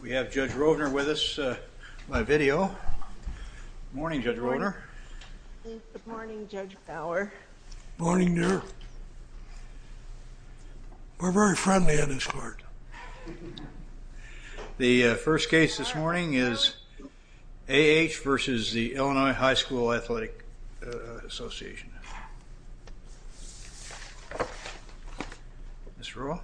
We have Judge Rovner with us on video. Morning, Judge Rovner. Good morning, Judge Bauer. Morning, dear. We're very friendly in this court. The first case this morning is A. H. v. Illinois High School Athletic Association. Ms. Rua.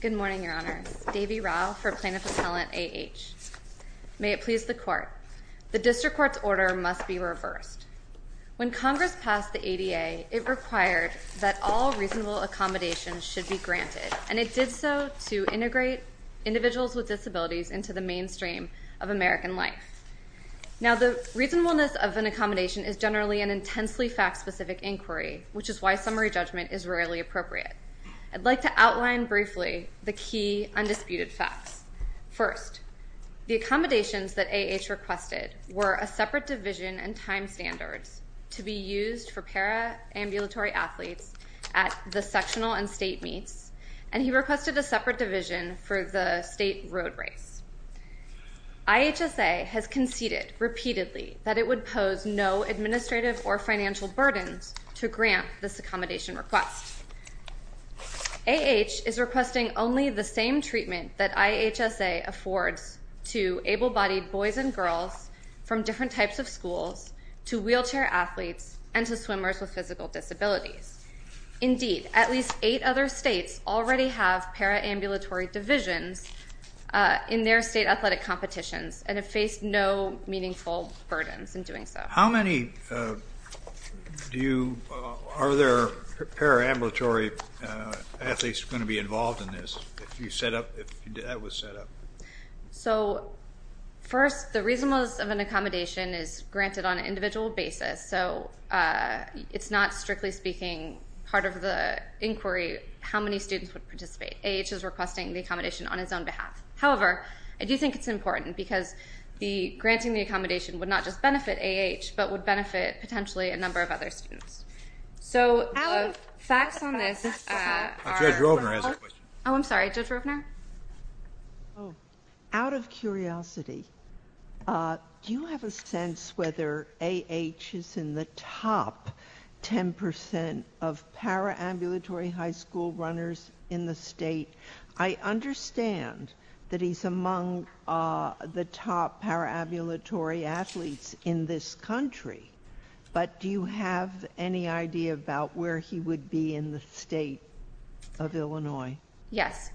Good morning, Your Honor. Davie Rau for Plaintiff-Appellant A. H. May it please the Court. The District Court's order must be reversed. When Congress passed the ADA, it required that all reasonable accommodations should be granted, and it did so to integrate individuals with disabilities into the mainstream of American life. Now, the reasonableness of an accommodation is generally an intensely fact-specific inquiry, which is why summary judgment is rarely appropriate. I'd like to outline briefly the key undisputed facts. First, the accommodations that A. H. requested were a separate division and time standards to be used for paraambulatory athletes at the sectional and state meets, and he requested a separate division for the state road race. I. H. S. A. has conceded repeatedly that it would pose no administrative or financial burdens to grant this accommodation request. A. H. is requesting only the same treatment that I. H. S. A. affords to able-bodied boys and girls from different types of schools, to wheelchair athletes, and to swimmers with physical disabilities. Indeed, at least eight other states already have paraambulatory divisions in their state athletic competitions and have faced no meaningful burdens in doing so. How many do you, are there paraambulatory athletes going to be involved in this if you set up? First, the reasonableness of an accommodation is granted on an individual basis, so it's not, strictly speaking, part of the inquiry how many students would participate. A. H. is requesting the accommodation on his own behalf. However, I do think it's important because granting the accommodation would not just benefit A. H., but would benefit potentially a number of other students. So, facts on this. Judge Rovner has a question. Oh, I'm sorry, Judge Rovner? Out of curiosity, do you have a sense whether A. H. is in the top 10% of paraambulatory high school runners in the state? I understand that he's among the top paraambulatory athletes in this country, but do you have any idea about where he would be in the state of Illinois? Yes.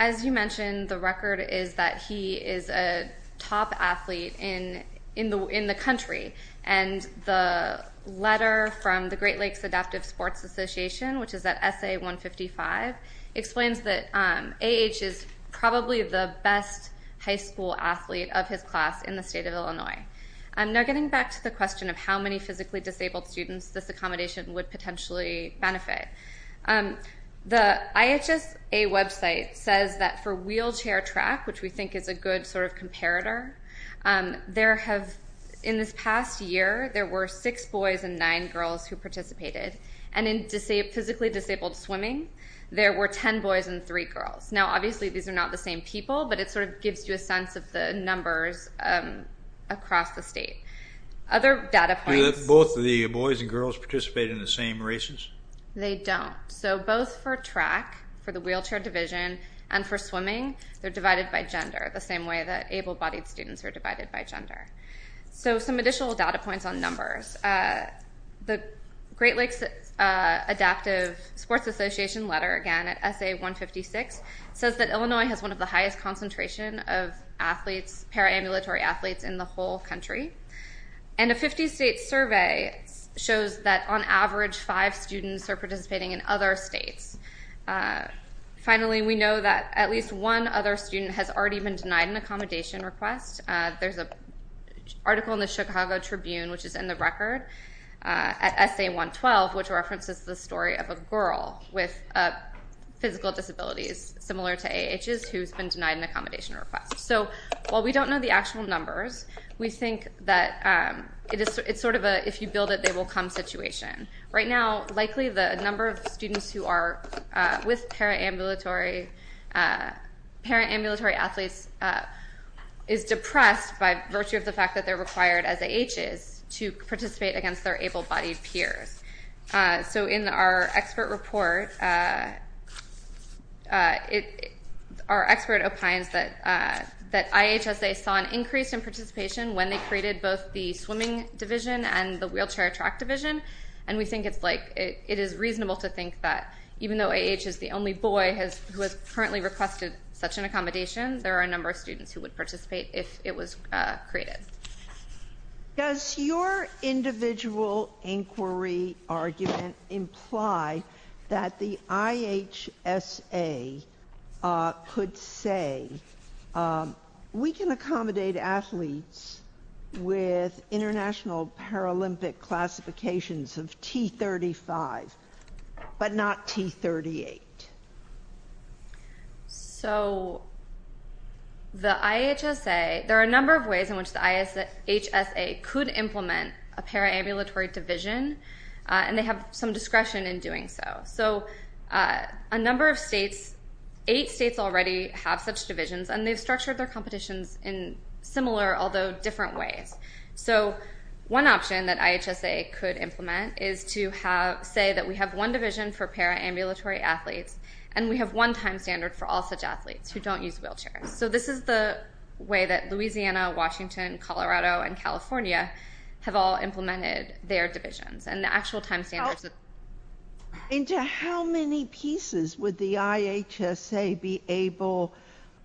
As you mentioned, the record is that he is a top athlete in the country, and the letter from the Great Lakes Adaptive Sports Association, which is at SA 155, explains that A. H. is probably the best high school athlete of his class in the state of Illinois. Now, getting back to the question of how many physically disabled students this accommodation would potentially benefit, the IHSA website says that for wheelchair track, which we think is a good sort of comparator, there have, in this past year, there were six boys and nine girls who participated. And in physically disabled swimming, there were 10 boys and three girls. Now, obviously, these are not the same people, but it sort of gives you a sense of the numbers across the state. Other data points... Do both the boys and girls participate in the same races? They don't. So, both for track, for the wheelchair division, and for swimming, they're divided by gender, the same way that able-bodied students are divided by gender. So, some additional data points on numbers. The Great Lakes Adaptive Sports Association letter, again, at SA 156, says that Illinois has one of the highest concentration of athletes, paraambulatory athletes, in the whole country. And a 50-state survey shows that, on average, five students are participating in other states. Finally, we know that at least one other student has already been denied an accommodation request. There's an article in the Chicago Tribune, which is in the record, at SA 112, which references the story of a girl with physical disabilities, similar to AAHs, who's been denied an accommodation request. So, while we don't know the actual numbers, we think that it's sort of a, if you build it, they will come situation. Right now, likely, the number of students who are with paraambulatory athletes is depressed by virtue of the fact that they're required, as AAHs, to participate against their able-bodied peers. So, in our expert report, our expert opines that IHSA saw an increase in participation when they created both the swimming division and the wheelchair track division, and we think it's like, it is reasonable to think that even though AAH is the only boy who has currently requested such an accommodation, there are a number of students who would participate if it was created. Does your individual inquiry argument imply that the IHSA could say, we can accommodate athletes with international Paralympic classifications of T35, but not T38? So, the IHSA, there are a number of ways in which the IHSA could implement a paraambulatory division, and they have some discretion in doing so. So, a number of states, eight states already have such divisions, and they've structured their competitions in similar, although different ways. So, one option that IHSA could implement is to say that we have one division for paraambulatory athletes, and we have one time standard for all such athletes who don't use wheelchairs. So, this is the way that Louisiana, Washington, Colorado, and California have all implemented their divisions, and the actual time standards... And to how many pieces would the IHSA be able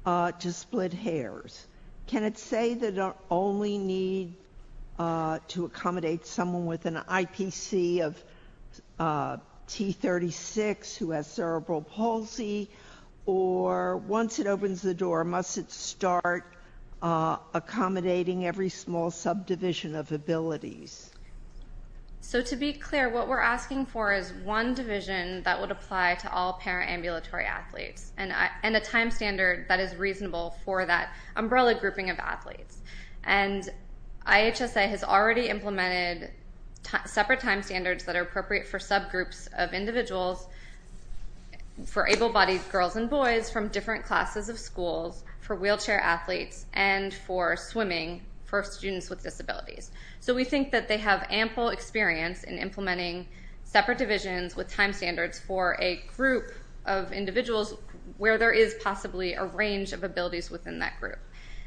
to split hairs? Can it say that they only need to accommodate someone with an IPC of T36 who has cerebral palsy, or once it opens the door, must it start accommodating every small subdivision of abilities? So, to be clear, what we're asking for is one division that would apply to all paraambulatory athletes, and a time standard that is reasonable for that umbrella grouping of athletes. And IHSA has already implemented separate time standards that are appropriate for subgroups of individuals, for able-bodied girls and boys from different classes of schools, for wheelchair athletes, and for swimming for students with disabilities. So, we think that they have ample experience in implementing separate divisions with time standards for a group of individuals where there is possibly a range of abilities within that group.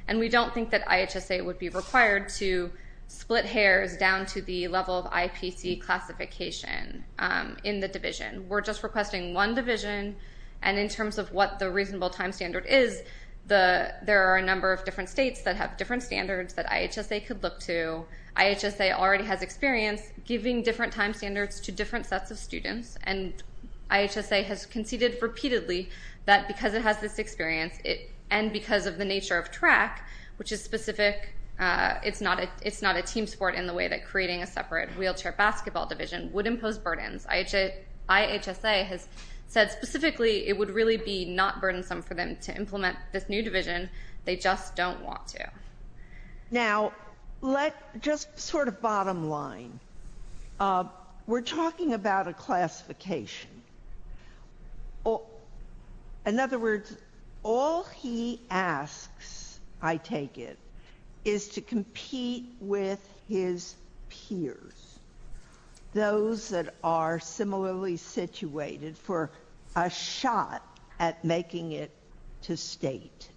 And we don't think that IHSA would be required to split hairs down to the level of IPC classification in the division. We're just requesting one division, and in terms of what the reasonable time standard is, there are a number of different states that have different standards that IHSA has experience giving different time standards to different sets of students, and IHSA has conceded repeatedly that because it has this experience, and because of the nature of track, which is specific, it's not a team sport in the way that creating a separate wheelchair basketball division would impose burdens. IHSA has said specifically it would really be not burdensome for them to implement this new division, they just don't want to. Now, just sort of bottom line, we're talking about a classification. In other words, all he asks, I take it, is to compete with his peers, those that are similarly situated for a shot at making it to state.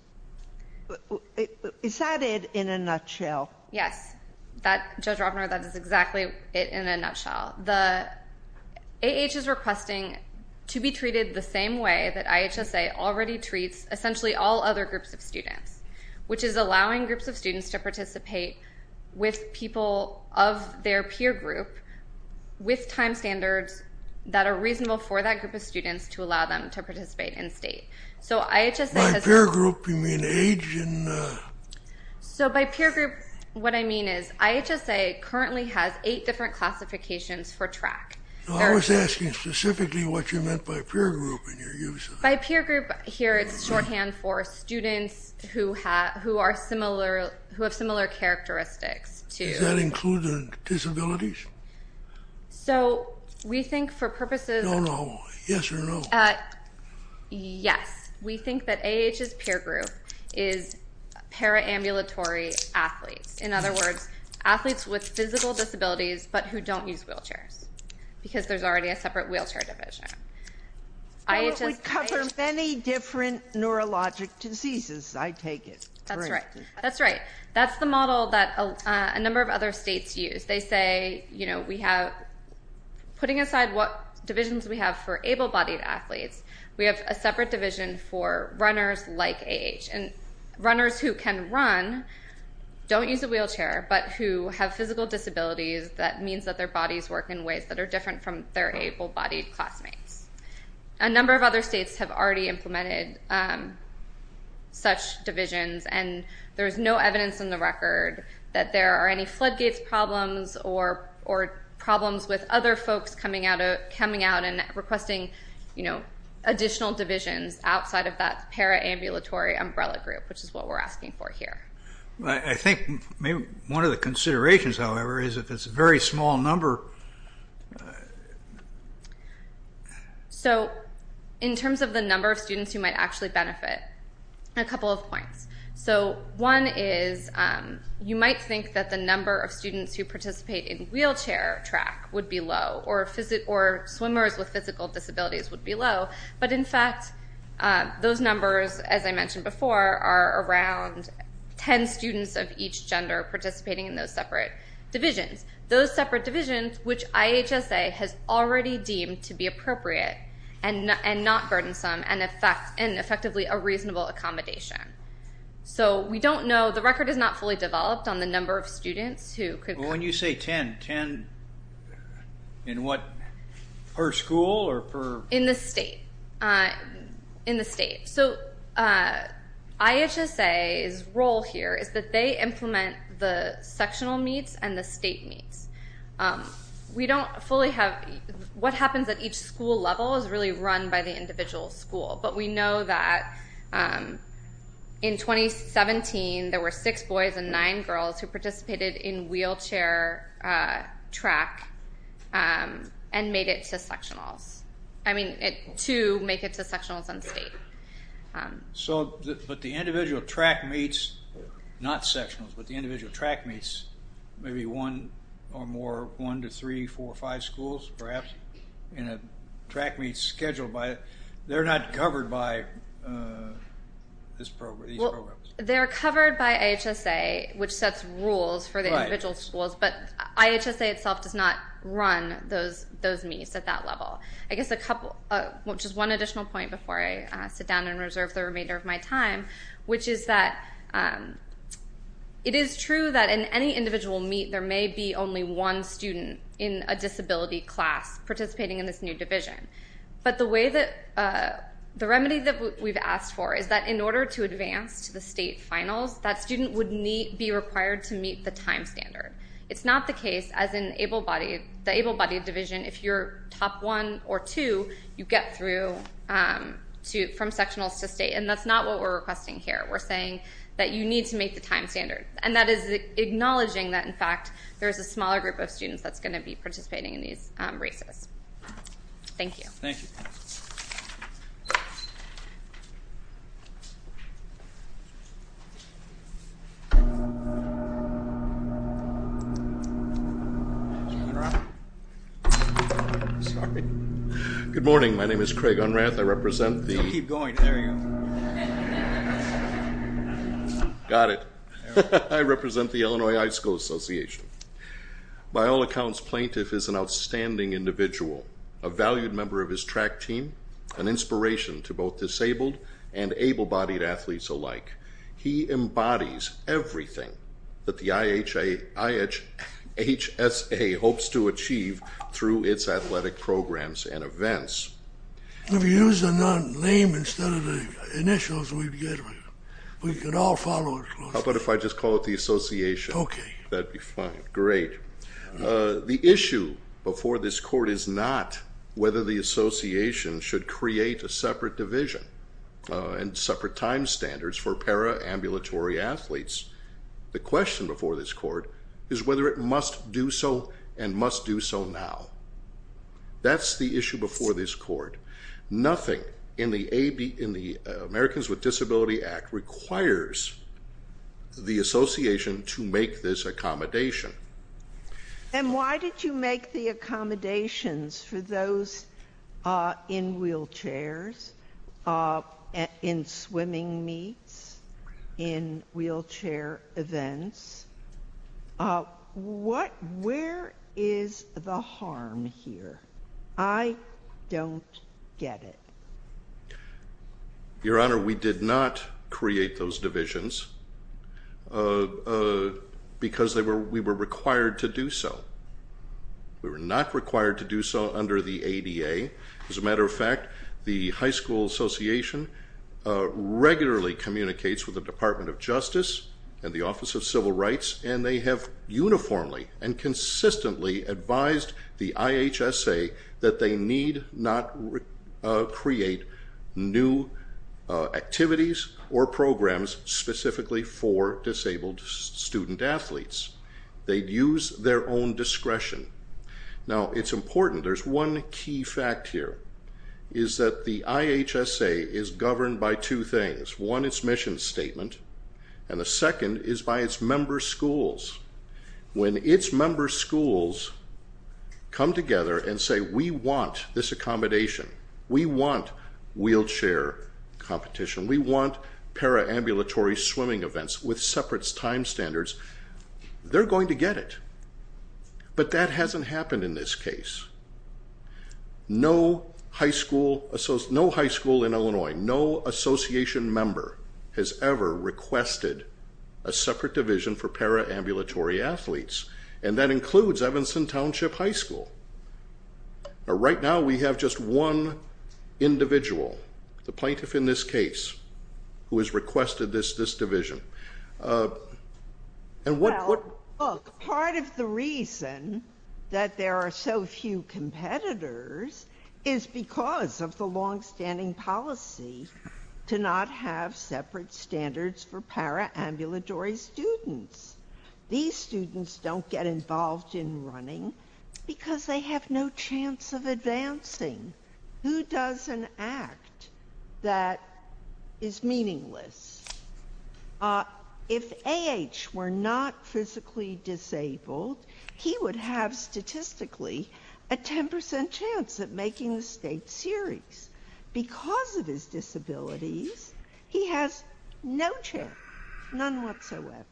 Is that it in a nutshell? Yes. Judge Ropner, that is exactly it in a nutshell. The AH is requesting to be treated the same way that IHSA already treats essentially all other groups of students, which is allowing groups of students to participate with people of their peer group with time standards that are reasonable for that group of students to allow them to participate in state. By peer group, you mean age? So by peer group, what I mean is IHSA currently has eight different classifications for track. I was asking specifically what you meant by peer group. By peer group, here it's shorthand for students who have similar characteristics. Does that include disabilities? No, no, yes or no? Yes. We think that AAH's peer group is para-ambulatory athletes. In other words, athletes with physical disabilities but who don't use wheelchairs because there's already a separate wheelchair division. Well, it would cover many different neurologic diseases, I take it. That's right. That's the model that a number of other states use. They say we have, putting aside what divisions we have for able-bodied athletes, we have a separate division for runners like AAH. And runners who can run don't use a wheelchair but who have physical disabilities that means that their bodies work in ways that are different from their already implemented such divisions. And there's no evidence in the record that there are any floodgates problems or problems with other folks coming out and requesting additional divisions outside of that para-ambulatory umbrella group, which is what we're asking for here. I think one of the considerations, however, is if it's a very small number. So, in terms of the number of students who might actually benefit, a couple of points. So, one is you might think that the number of students who participate in wheelchair track would be low or swimmers with physical disabilities would be low, but in fact those numbers, as I mentioned before, are around ten students of each gender participating in those separate divisions. Those separate divisions, which IHSA has already deemed to be appropriate and not burdensome and effectively a reasonable accommodation. So, we don't know, the record is not fully developed on the number of students who could- When you say ten, ten in what, per school or per- The role here is that they implement the sectional meets and the state meets. We don't fully have, what happens at each school level is really run by the individual school, but we know that in 2017 there were six boys and nine girls who participated in wheelchair track and made it to sectionals. I mean, to make it to sectionals and state. So, but the individual track meets, not sectionals, but the individual track meets, maybe one or more, one to three, four, five schools, perhaps, and a track meets scheduled by, they're not covered by these programs. They're covered by IHSA, which sets rules for the individual schools, but IHSA itself does not run those meets at that level. I guess a couple, just one additional point before I sit down and reserve the remainder of my time, which is that it is true that in any individual meet, there may be only one student in a disability class participating in this new division, but the way that, the remedy that we've asked for is that in order to advance to the state finals, that student would be required to meet the time standard. It's not the case, as in able-bodied, the able-bodied division, if you're top one or top two, you get through from sectionals to state, and that's not what we're requesting here. We're saying that you need to meet the time standard, and that is acknowledging that, in fact, there's a smaller group of students that's going to be participating in these races. Thank you. Thank you. Sorry. Good morning, my name is Craig Unrath, I represent the- Keep going, there you go. Got it. I represent the Illinois High School Association. By all accounts, Plaintiff is an outstanding individual, a valued member of his track team, an inspiration to both disabled and able-bodied athletes alike. He embodies everything that the IHSA hopes to achieve through its athletic programs and events. If you use a name instead of the initials, we can all follow it. How about if I just call it the association? Okay. That'd be fine. Great. The issue before this court is not whether the association should create a separate division and separate time standards for paraambulatory athletes. The question before this court is whether it must do so and must do so now. That's the issue before this court. Nothing in the Americans with Disability Act requires the association to make this accommodation. And why did you make the accommodations for those in wheelchairs, in swimming meets, in wheelchair events? Where is the harm here? I don't get it. Your Honor, we did not create those divisions because we were required to do so. We were not required to do so under the ADA. As a matter of fact, the high school association regularly communicates with the Department of Justice and the Office of Civil Rights, and they have uniformly and consistently advised the IHSA that they need not create new activities or programs specifically for disabled student athletes. They'd use their own discretion. Now it's important, there's one key fact here, is that the IHSA is governed by two things. One is mission statement, and the second is by its member schools. When its member schools come together and say, we want this accommodation, we want wheelchair competition, we want paraambulatory swimming events with separate time standards, they're going to get it. But that hasn't happened in this case. No high school in Illinois, no association member has ever requested a separate division for paraambulatory athletes, and that includes Evanston Township High School. Right now, we have just one individual, the plaintiff in this case, who has requested this division. Well, look, part of the reason that there are so few competitors is because of the longstanding policy to not have separate standards for paraambulatory students. These students don't get involved in running because they have no chance of advancing. Who does an act that is meaningless? If AH were not physically disabled, he would have statistically a 10% chance of making the state series. Because of his disabilities, he has no chance, none whatsoever.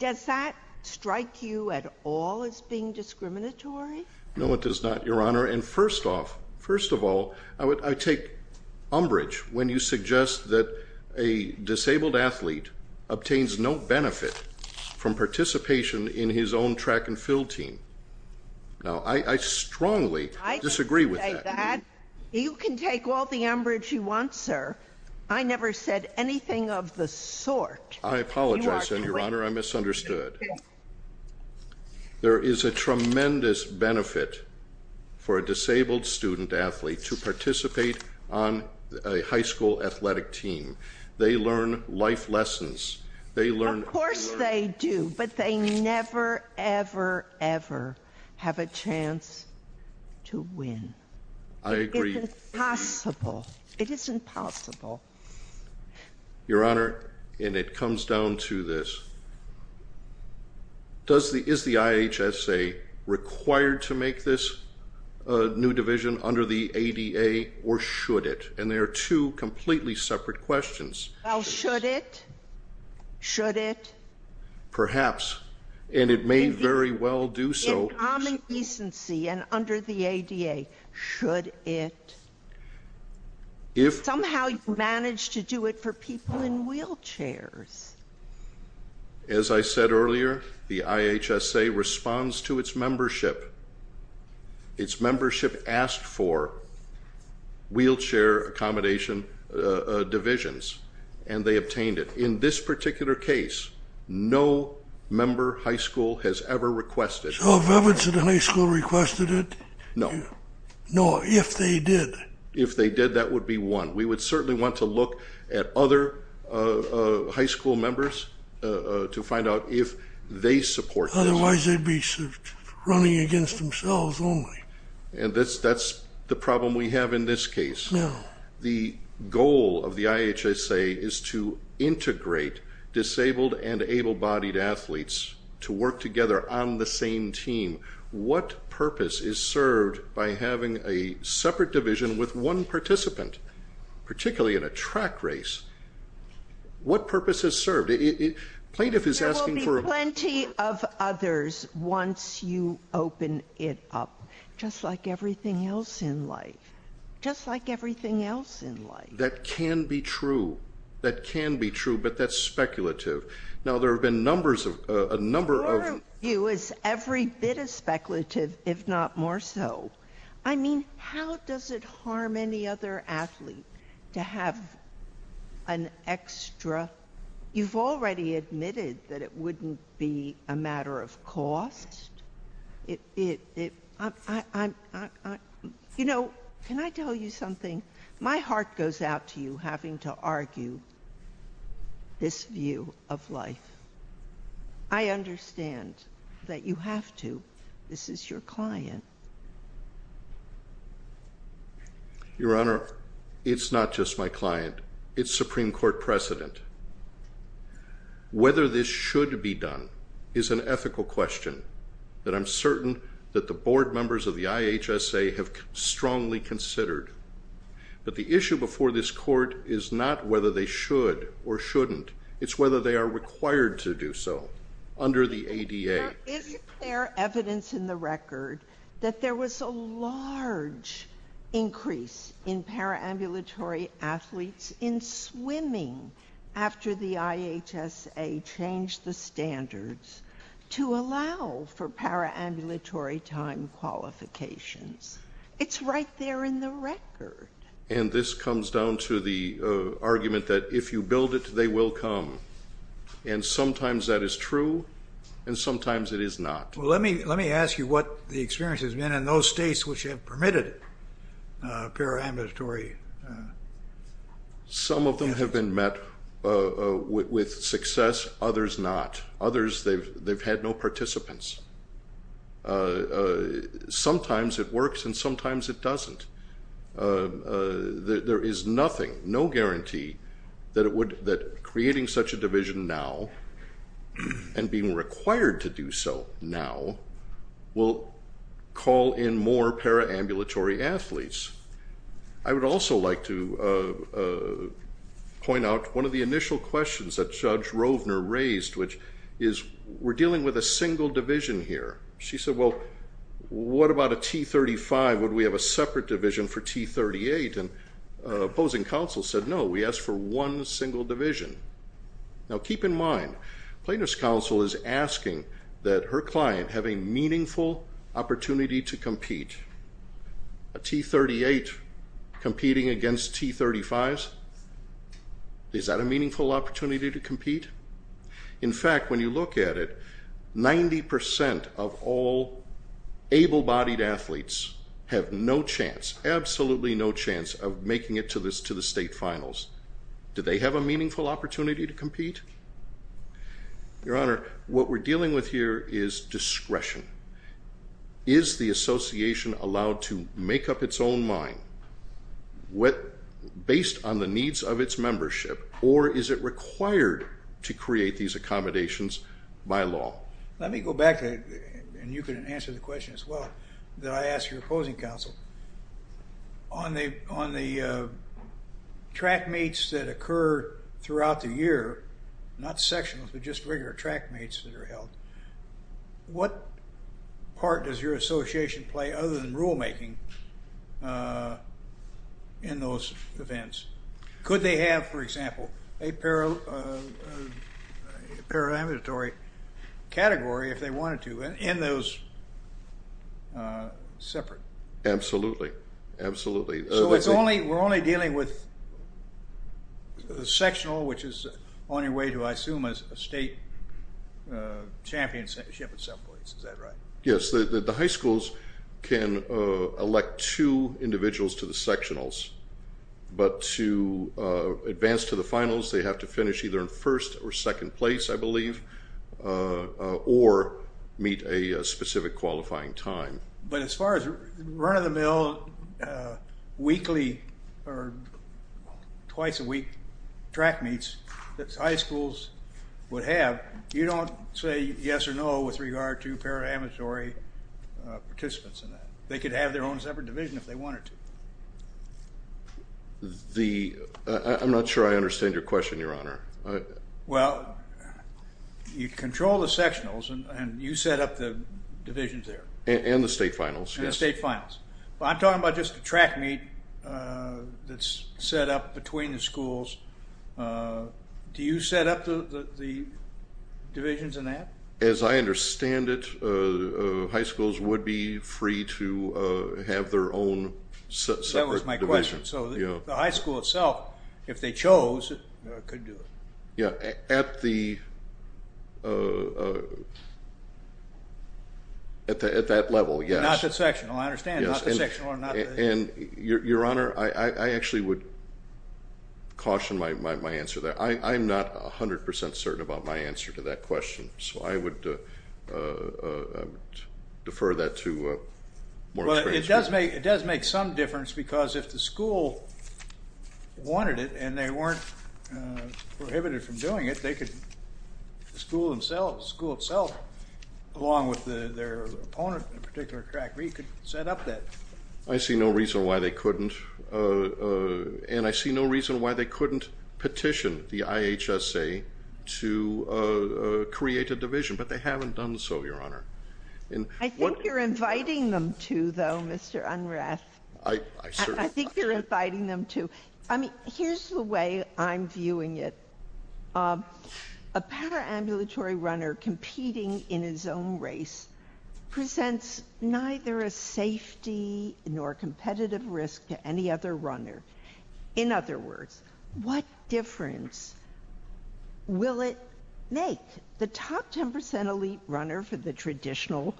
Does that strike you at all as being discriminatory? No, it does not, Your Honor. And first off, first of all, I take umbrage when you suggest that a disabled athlete obtains no benefit from participation in his own track and field team. Now, I strongly disagree with that. You can take all the umbrage you want, sir. I never said anything of the sort. I apologize, Your Honor, I misunderstood. There is a tremendous benefit for a disabled student athlete to participate on a high school athletic team. They learn life lessons. Of course they do, but they never, ever, ever have a chance to win. I agree. It's impossible. It is impossible. Your Honor, and it comes down to this, is the IHSA required to make this new division under the ADA or should it? And they are two completely separate questions. Well, should it? Should it? Perhaps. And it may very well do so. In common decency and under the ADA, should it? If somehow you manage to do it for people in wheelchairs. As I said earlier, the IHSA responds to its membership. Its membership asked for wheelchair accommodation divisions and they obtained it. In this particular case, no member high school has ever requested it. So have Everett's in the high school requested it? No. No, if they did. If they did, that would be one. We would certainly want to look at other high school members to find out if they support this. Otherwise, they'd be running against themselves only. And that's the problem we have in this case. The goal of the IHSA is to integrate disabled and able-bodied athletes to work together on the same team. What purpose is served by having a separate division with one participant, particularly in a track race? What purpose is served? There will be plenty of others once you open it up. Just like everything else in life. Just like everything else in life. That can be true. That can be true, but that's speculative. Now there have been numbers of, a number of... Your view is every bit as speculative, if not more so. I mean, how does it harm any other athlete to have an extra... You've already admitted that it wouldn't be a matter of cost. It... I'm... You know, can I tell you something? My heart goes out to you having to argue this view of life. I understand that you have to. This is your client. Your Honor, it's not just my client. It's Supreme Court precedent. Whether this should be done is an ethical question that I'm certain that the board members of the IHSA have strongly considered. But the issue before this court is not whether they should or shouldn't. It's whether they are required to do so under the ADA. Is there evidence in the record that there was a large increase in paramilitary athletes in swimming after the IHSA changed the standards to allow for paramilitary time qualifications? It's right there in the record. And this comes down to the argument that if you build it, they will come. And sometimes that is true, and sometimes it is not. Let me ask you what the experience has been in those states which have permitted paramilitary... Some of them have been met with success. Others not. Others, they've had no participants. Sometimes it works and sometimes it doesn't. There is nothing, no guarantee that creating such a division now and being required to do so now will call in more paramilitary athletes. I would also like to point out one of the initial questions that Judge Rovner raised, which is we're dealing with a single division here. She said, well, what about a T35? Would we have a separate division for T38? And opposing counsel said, no, we ask for one single division. Now keep in mind, plaintiff's counsel is asking that her client have a meaningful opportunity to compete. A T38 competing against T35s, is that a meaningful opportunity to compete? In fact, when you look at it, 90% of all able-bodied athletes have no chance, absolutely no chance of making it to the state finals. Do they have a meaningful opportunity to compete? Your Honor, what we're dealing with here is discretion. Is the association allowed to make up its own mind based on the needs of its membership, or is it required to create these accommodations by law? Let me go back, and you can answer the question as well, that I asked your opposing counsel. On the track meets that occur throughout the year, not sectionals, but just regular track meets that are held, what part does your association play other than rulemaking in those events? Could they have, for example, a paramilitary category if they wanted to in those separate? Absolutely, absolutely. So we're only dealing with the sectional, which is on your way to, I assume, a state championship at some point, is that right? Yes, the high schools can elect two individuals to the sectionals. But to advance to the finals, they have to finish either in first or second place, I believe, or meet a specific qualifying time. But as far as run-of-the-mill weekly or twice-a-week track meets that high schools would have, you don't say yes or no with regard to paramilitary participants in that. They could have their own separate division if they wanted to. I'm not sure I understand your question, Your Honor. Well, you control the sectionals, and you set up the divisions there. And the state finals, yes. And the state finals. But I'm talking about just the track meet that's set up between the schools. Do you set up the divisions in that? As I understand it, high schools would be free to have their own separate divisions. That was my question. So the high school itself, if they chose, could do it. At that level, yes. Not the sectional, I understand. Not the sectional or not the... And Your Honor, I actually would caution my answer there. I'm not 100 percent certain about my answer to that question. So I would defer that to more experienced people. But it does make some difference because if the school wanted it and they weren't prohibited from doing it, the school itself, along with their opponent in a particular track meet, could set up that. I see no reason why they couldn't, and I see no reason why they couldn't petition the IHSA to create a division. But they haven't done so, Your Honor. I think you're inviting them to, though, Mr. Unrath. I certainly... I think you're inviting them to. I mean, here's the way I'm viewing it. A paramilitary runner competing in his own race presents neither a safety nor competitive risk to any other runner. In other words, what difference will it make? The top 10 percent elite runner for the traditional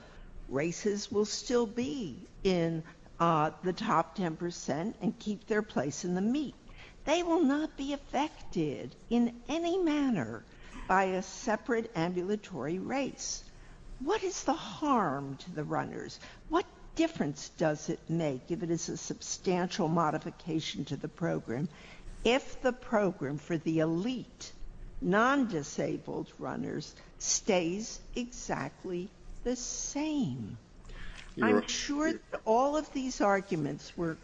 races will still be in the top 10 percent and keep their place in the meet. They will not be affected in any manner by a separate ambulatory race. What is the harm to the runners? What difference does it make, if it is a substantial modification to the program, if the program for the elite, non-disabled runners stays exactly the same? I'm sure all of these arguments were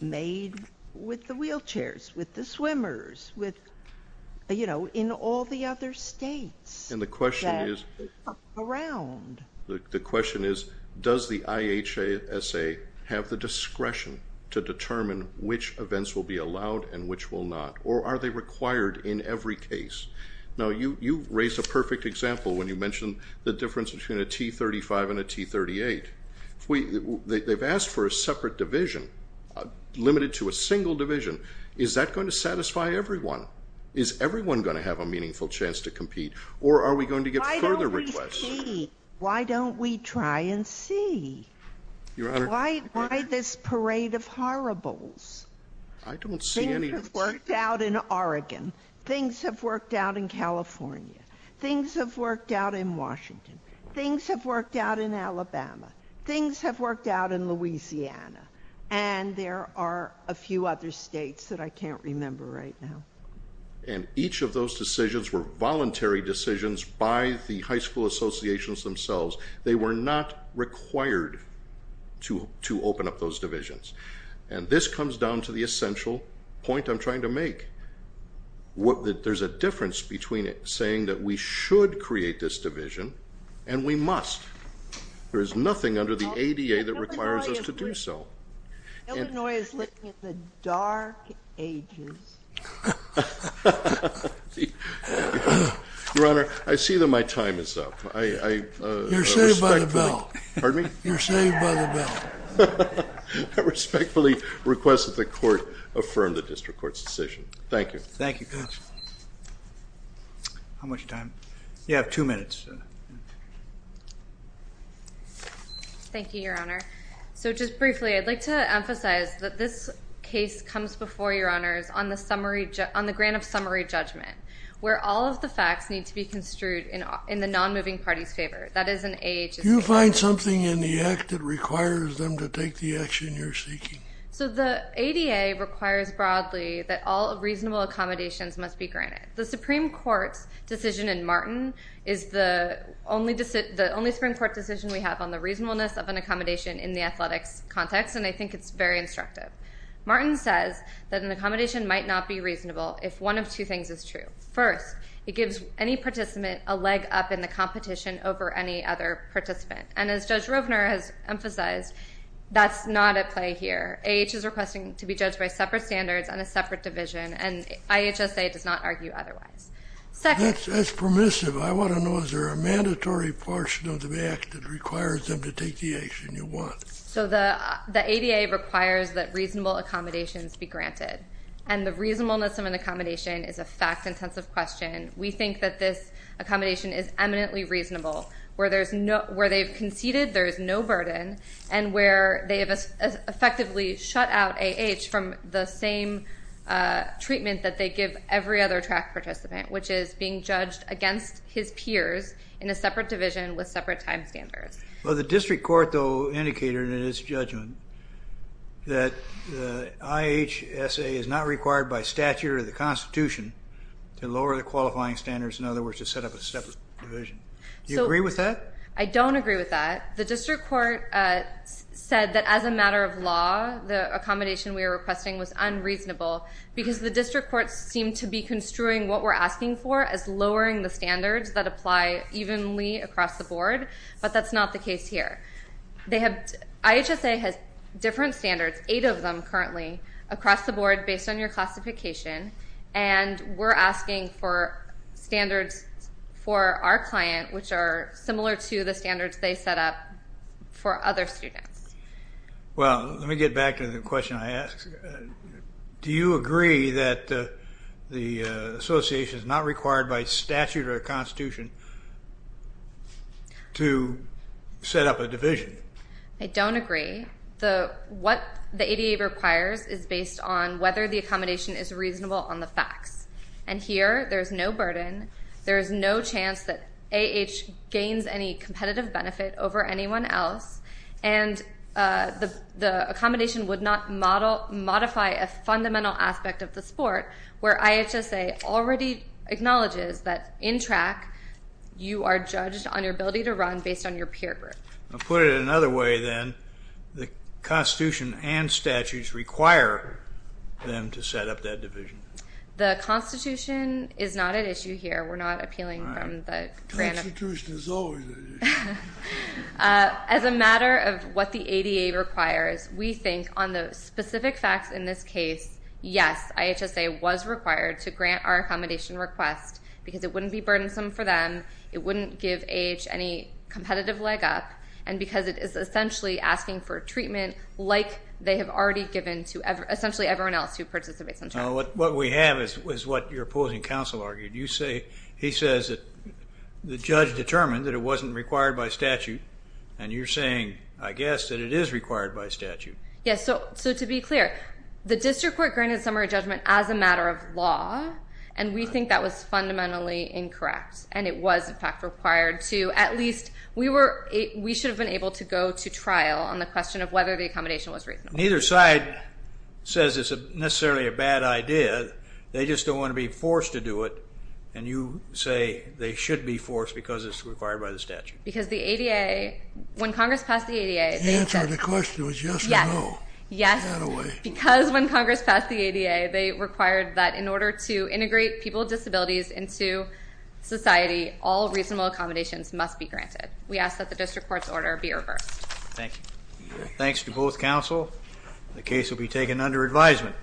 made with the wheelchairs, with the swimmers, in all the other states that are around. The question is, does the IHSA have the discretion to determine which events will be allowed and which will not, or are they required in every case? Now, you raised a perfect example when you mentioned the difference between a T-35 and a T-38. They've asked for a separate division, limited to a single division. Is that going to satisfy everyone? Is everyone going to have a meaningful chance to compete, or are we going to get further requests? Why don't we try and see? Why this parade of horribles? I don't see any. Things have worked out in Oregon. Things have worked out in California. Things have worked out in Washington. Things have worked out in Alabama. Things have worked out in Louisiana. And there are a few other states that I can't remember right now. And each of those decisions were voluntary decisions by the high school associations themselves. They were not required to open up those divisions. And this comes down to the essential point I'm trying to make. There's a difference between saying that we should create this division and we must. There is nothing under the ADA that requires us to do so. Illinois is living in the dark ages. Your Honor, I see that my time is up. You're saved by the bell. Pardon me? You're saved by the bell. I respectfully request that the court affirm the district court's decision. Thank you. Thank you, counsel. How much time? You have two minutes. Thank you, Your Honor. So just briefly, I'd like to emphasize that this case comes before your honors on the grant of summary judgment, where all of the facts need to be construed in the non-moving party's favor. That is an AHS. Do you find something in the act that requires them to take the action you're seeking? So the ADA requires broadly that all reasonable accommodations must be granted. The Supreme Court's decision in Martin is the only Supreme Court decision we have on the reasonableness of an accommodation in the athletics context, and I think it's very instructive. Martin says that an accommodation might not be reasonable if one of two things is true. First, it gives any participant a leg up in the competition over any other participant. And as Judge Rovner has emphasized, that's not at play here. AH is requesting to be judged by separate standards on a separate division, and IHSA does not argue otherwise. Second. That's permissive. I want to know, is there a mandatory portion of the act that requires them to take the action you want? So the ADA requires that reasonable accommodations be granted. And the reasonableness of an accommodation is a fact-intensive question. We think that this accommodation is eminently reasonable. Where they've conceded, there is no burden. And where they have effectively shut out AH from the same treatment that they give every other track participant, which is being judged against his peers in a separate division with separate time standards. Well, the district court, though, indicated in its judgment that IHSA is not required by statute or the Constitution to lower the qualifying standards. In other words, to set up a separate division. Do you agree with that? I don't agree with that. The district court said that as a matter of law, the accommodation we were requesting was unreasonable because the district court seemed to be construing what we're asking for as lowering the standards that apply evenly across the board. But that's not the case here. IHSA has different standards, eight of them currently, across the board based on your classification. And we're asking for standards for our client, which are similar to the standards they set up for other students. Well, let me get back to the question I asked. Do you agree that the association is not required by statute or the Constitution to set up a division? I don't agree. What the ADA requires is based on whether the accommodation is reasonable on the facts. And here, there is no burden. There is no chance that AH gains any competitive benefit over anyone else. And the accommodation would not modify a fundamental aspect of the sport, where IHSA already acknowledges that in track, you are judged on your ability to run based on your peer group. I'll put it another way, then. The Constitution and statutes require them to set up that division. The Constitution is not an issue here. We're not appealing from the grant of. Constitution is always an issue. As a matter of what the ADA requires, we think on the specific facts in this case, yes, IHSA was required to grant our accommodation request because it wouldn't be burdensome for them, it wouldn't give AH any competitive leg up, and because it is essentially asking for treatment like they have already given to essentially everyone else who participates in track. What we have is what your opposing counsel argued. He says that the judge determined that it wasn't required by statute, and you're saying, I guess, that it is required by statute. Yes, so to be clear, the district court granted summary judgment as a matter of law, and we think that was fundamentally incorrect. And it was, in fact, required to at least we should have been able to go to trial on the question of whether the accommodation was reasonable. Neither side says it's necessarily a bad idea. They just don't want to be forced to do it, and you say they should be forced because it's required by the statute. Because the ADA, when Congress passed the ADA, they said. The answer to the question was yes or no. Yes. Because when Congress passed the ADA, they required that in order to integrate people with disabilities into society, all reasonable accommodations must be granted. We ask that the district court's order be reversed. Thank you. Thanks to both counsel. The case will be taken under advisement.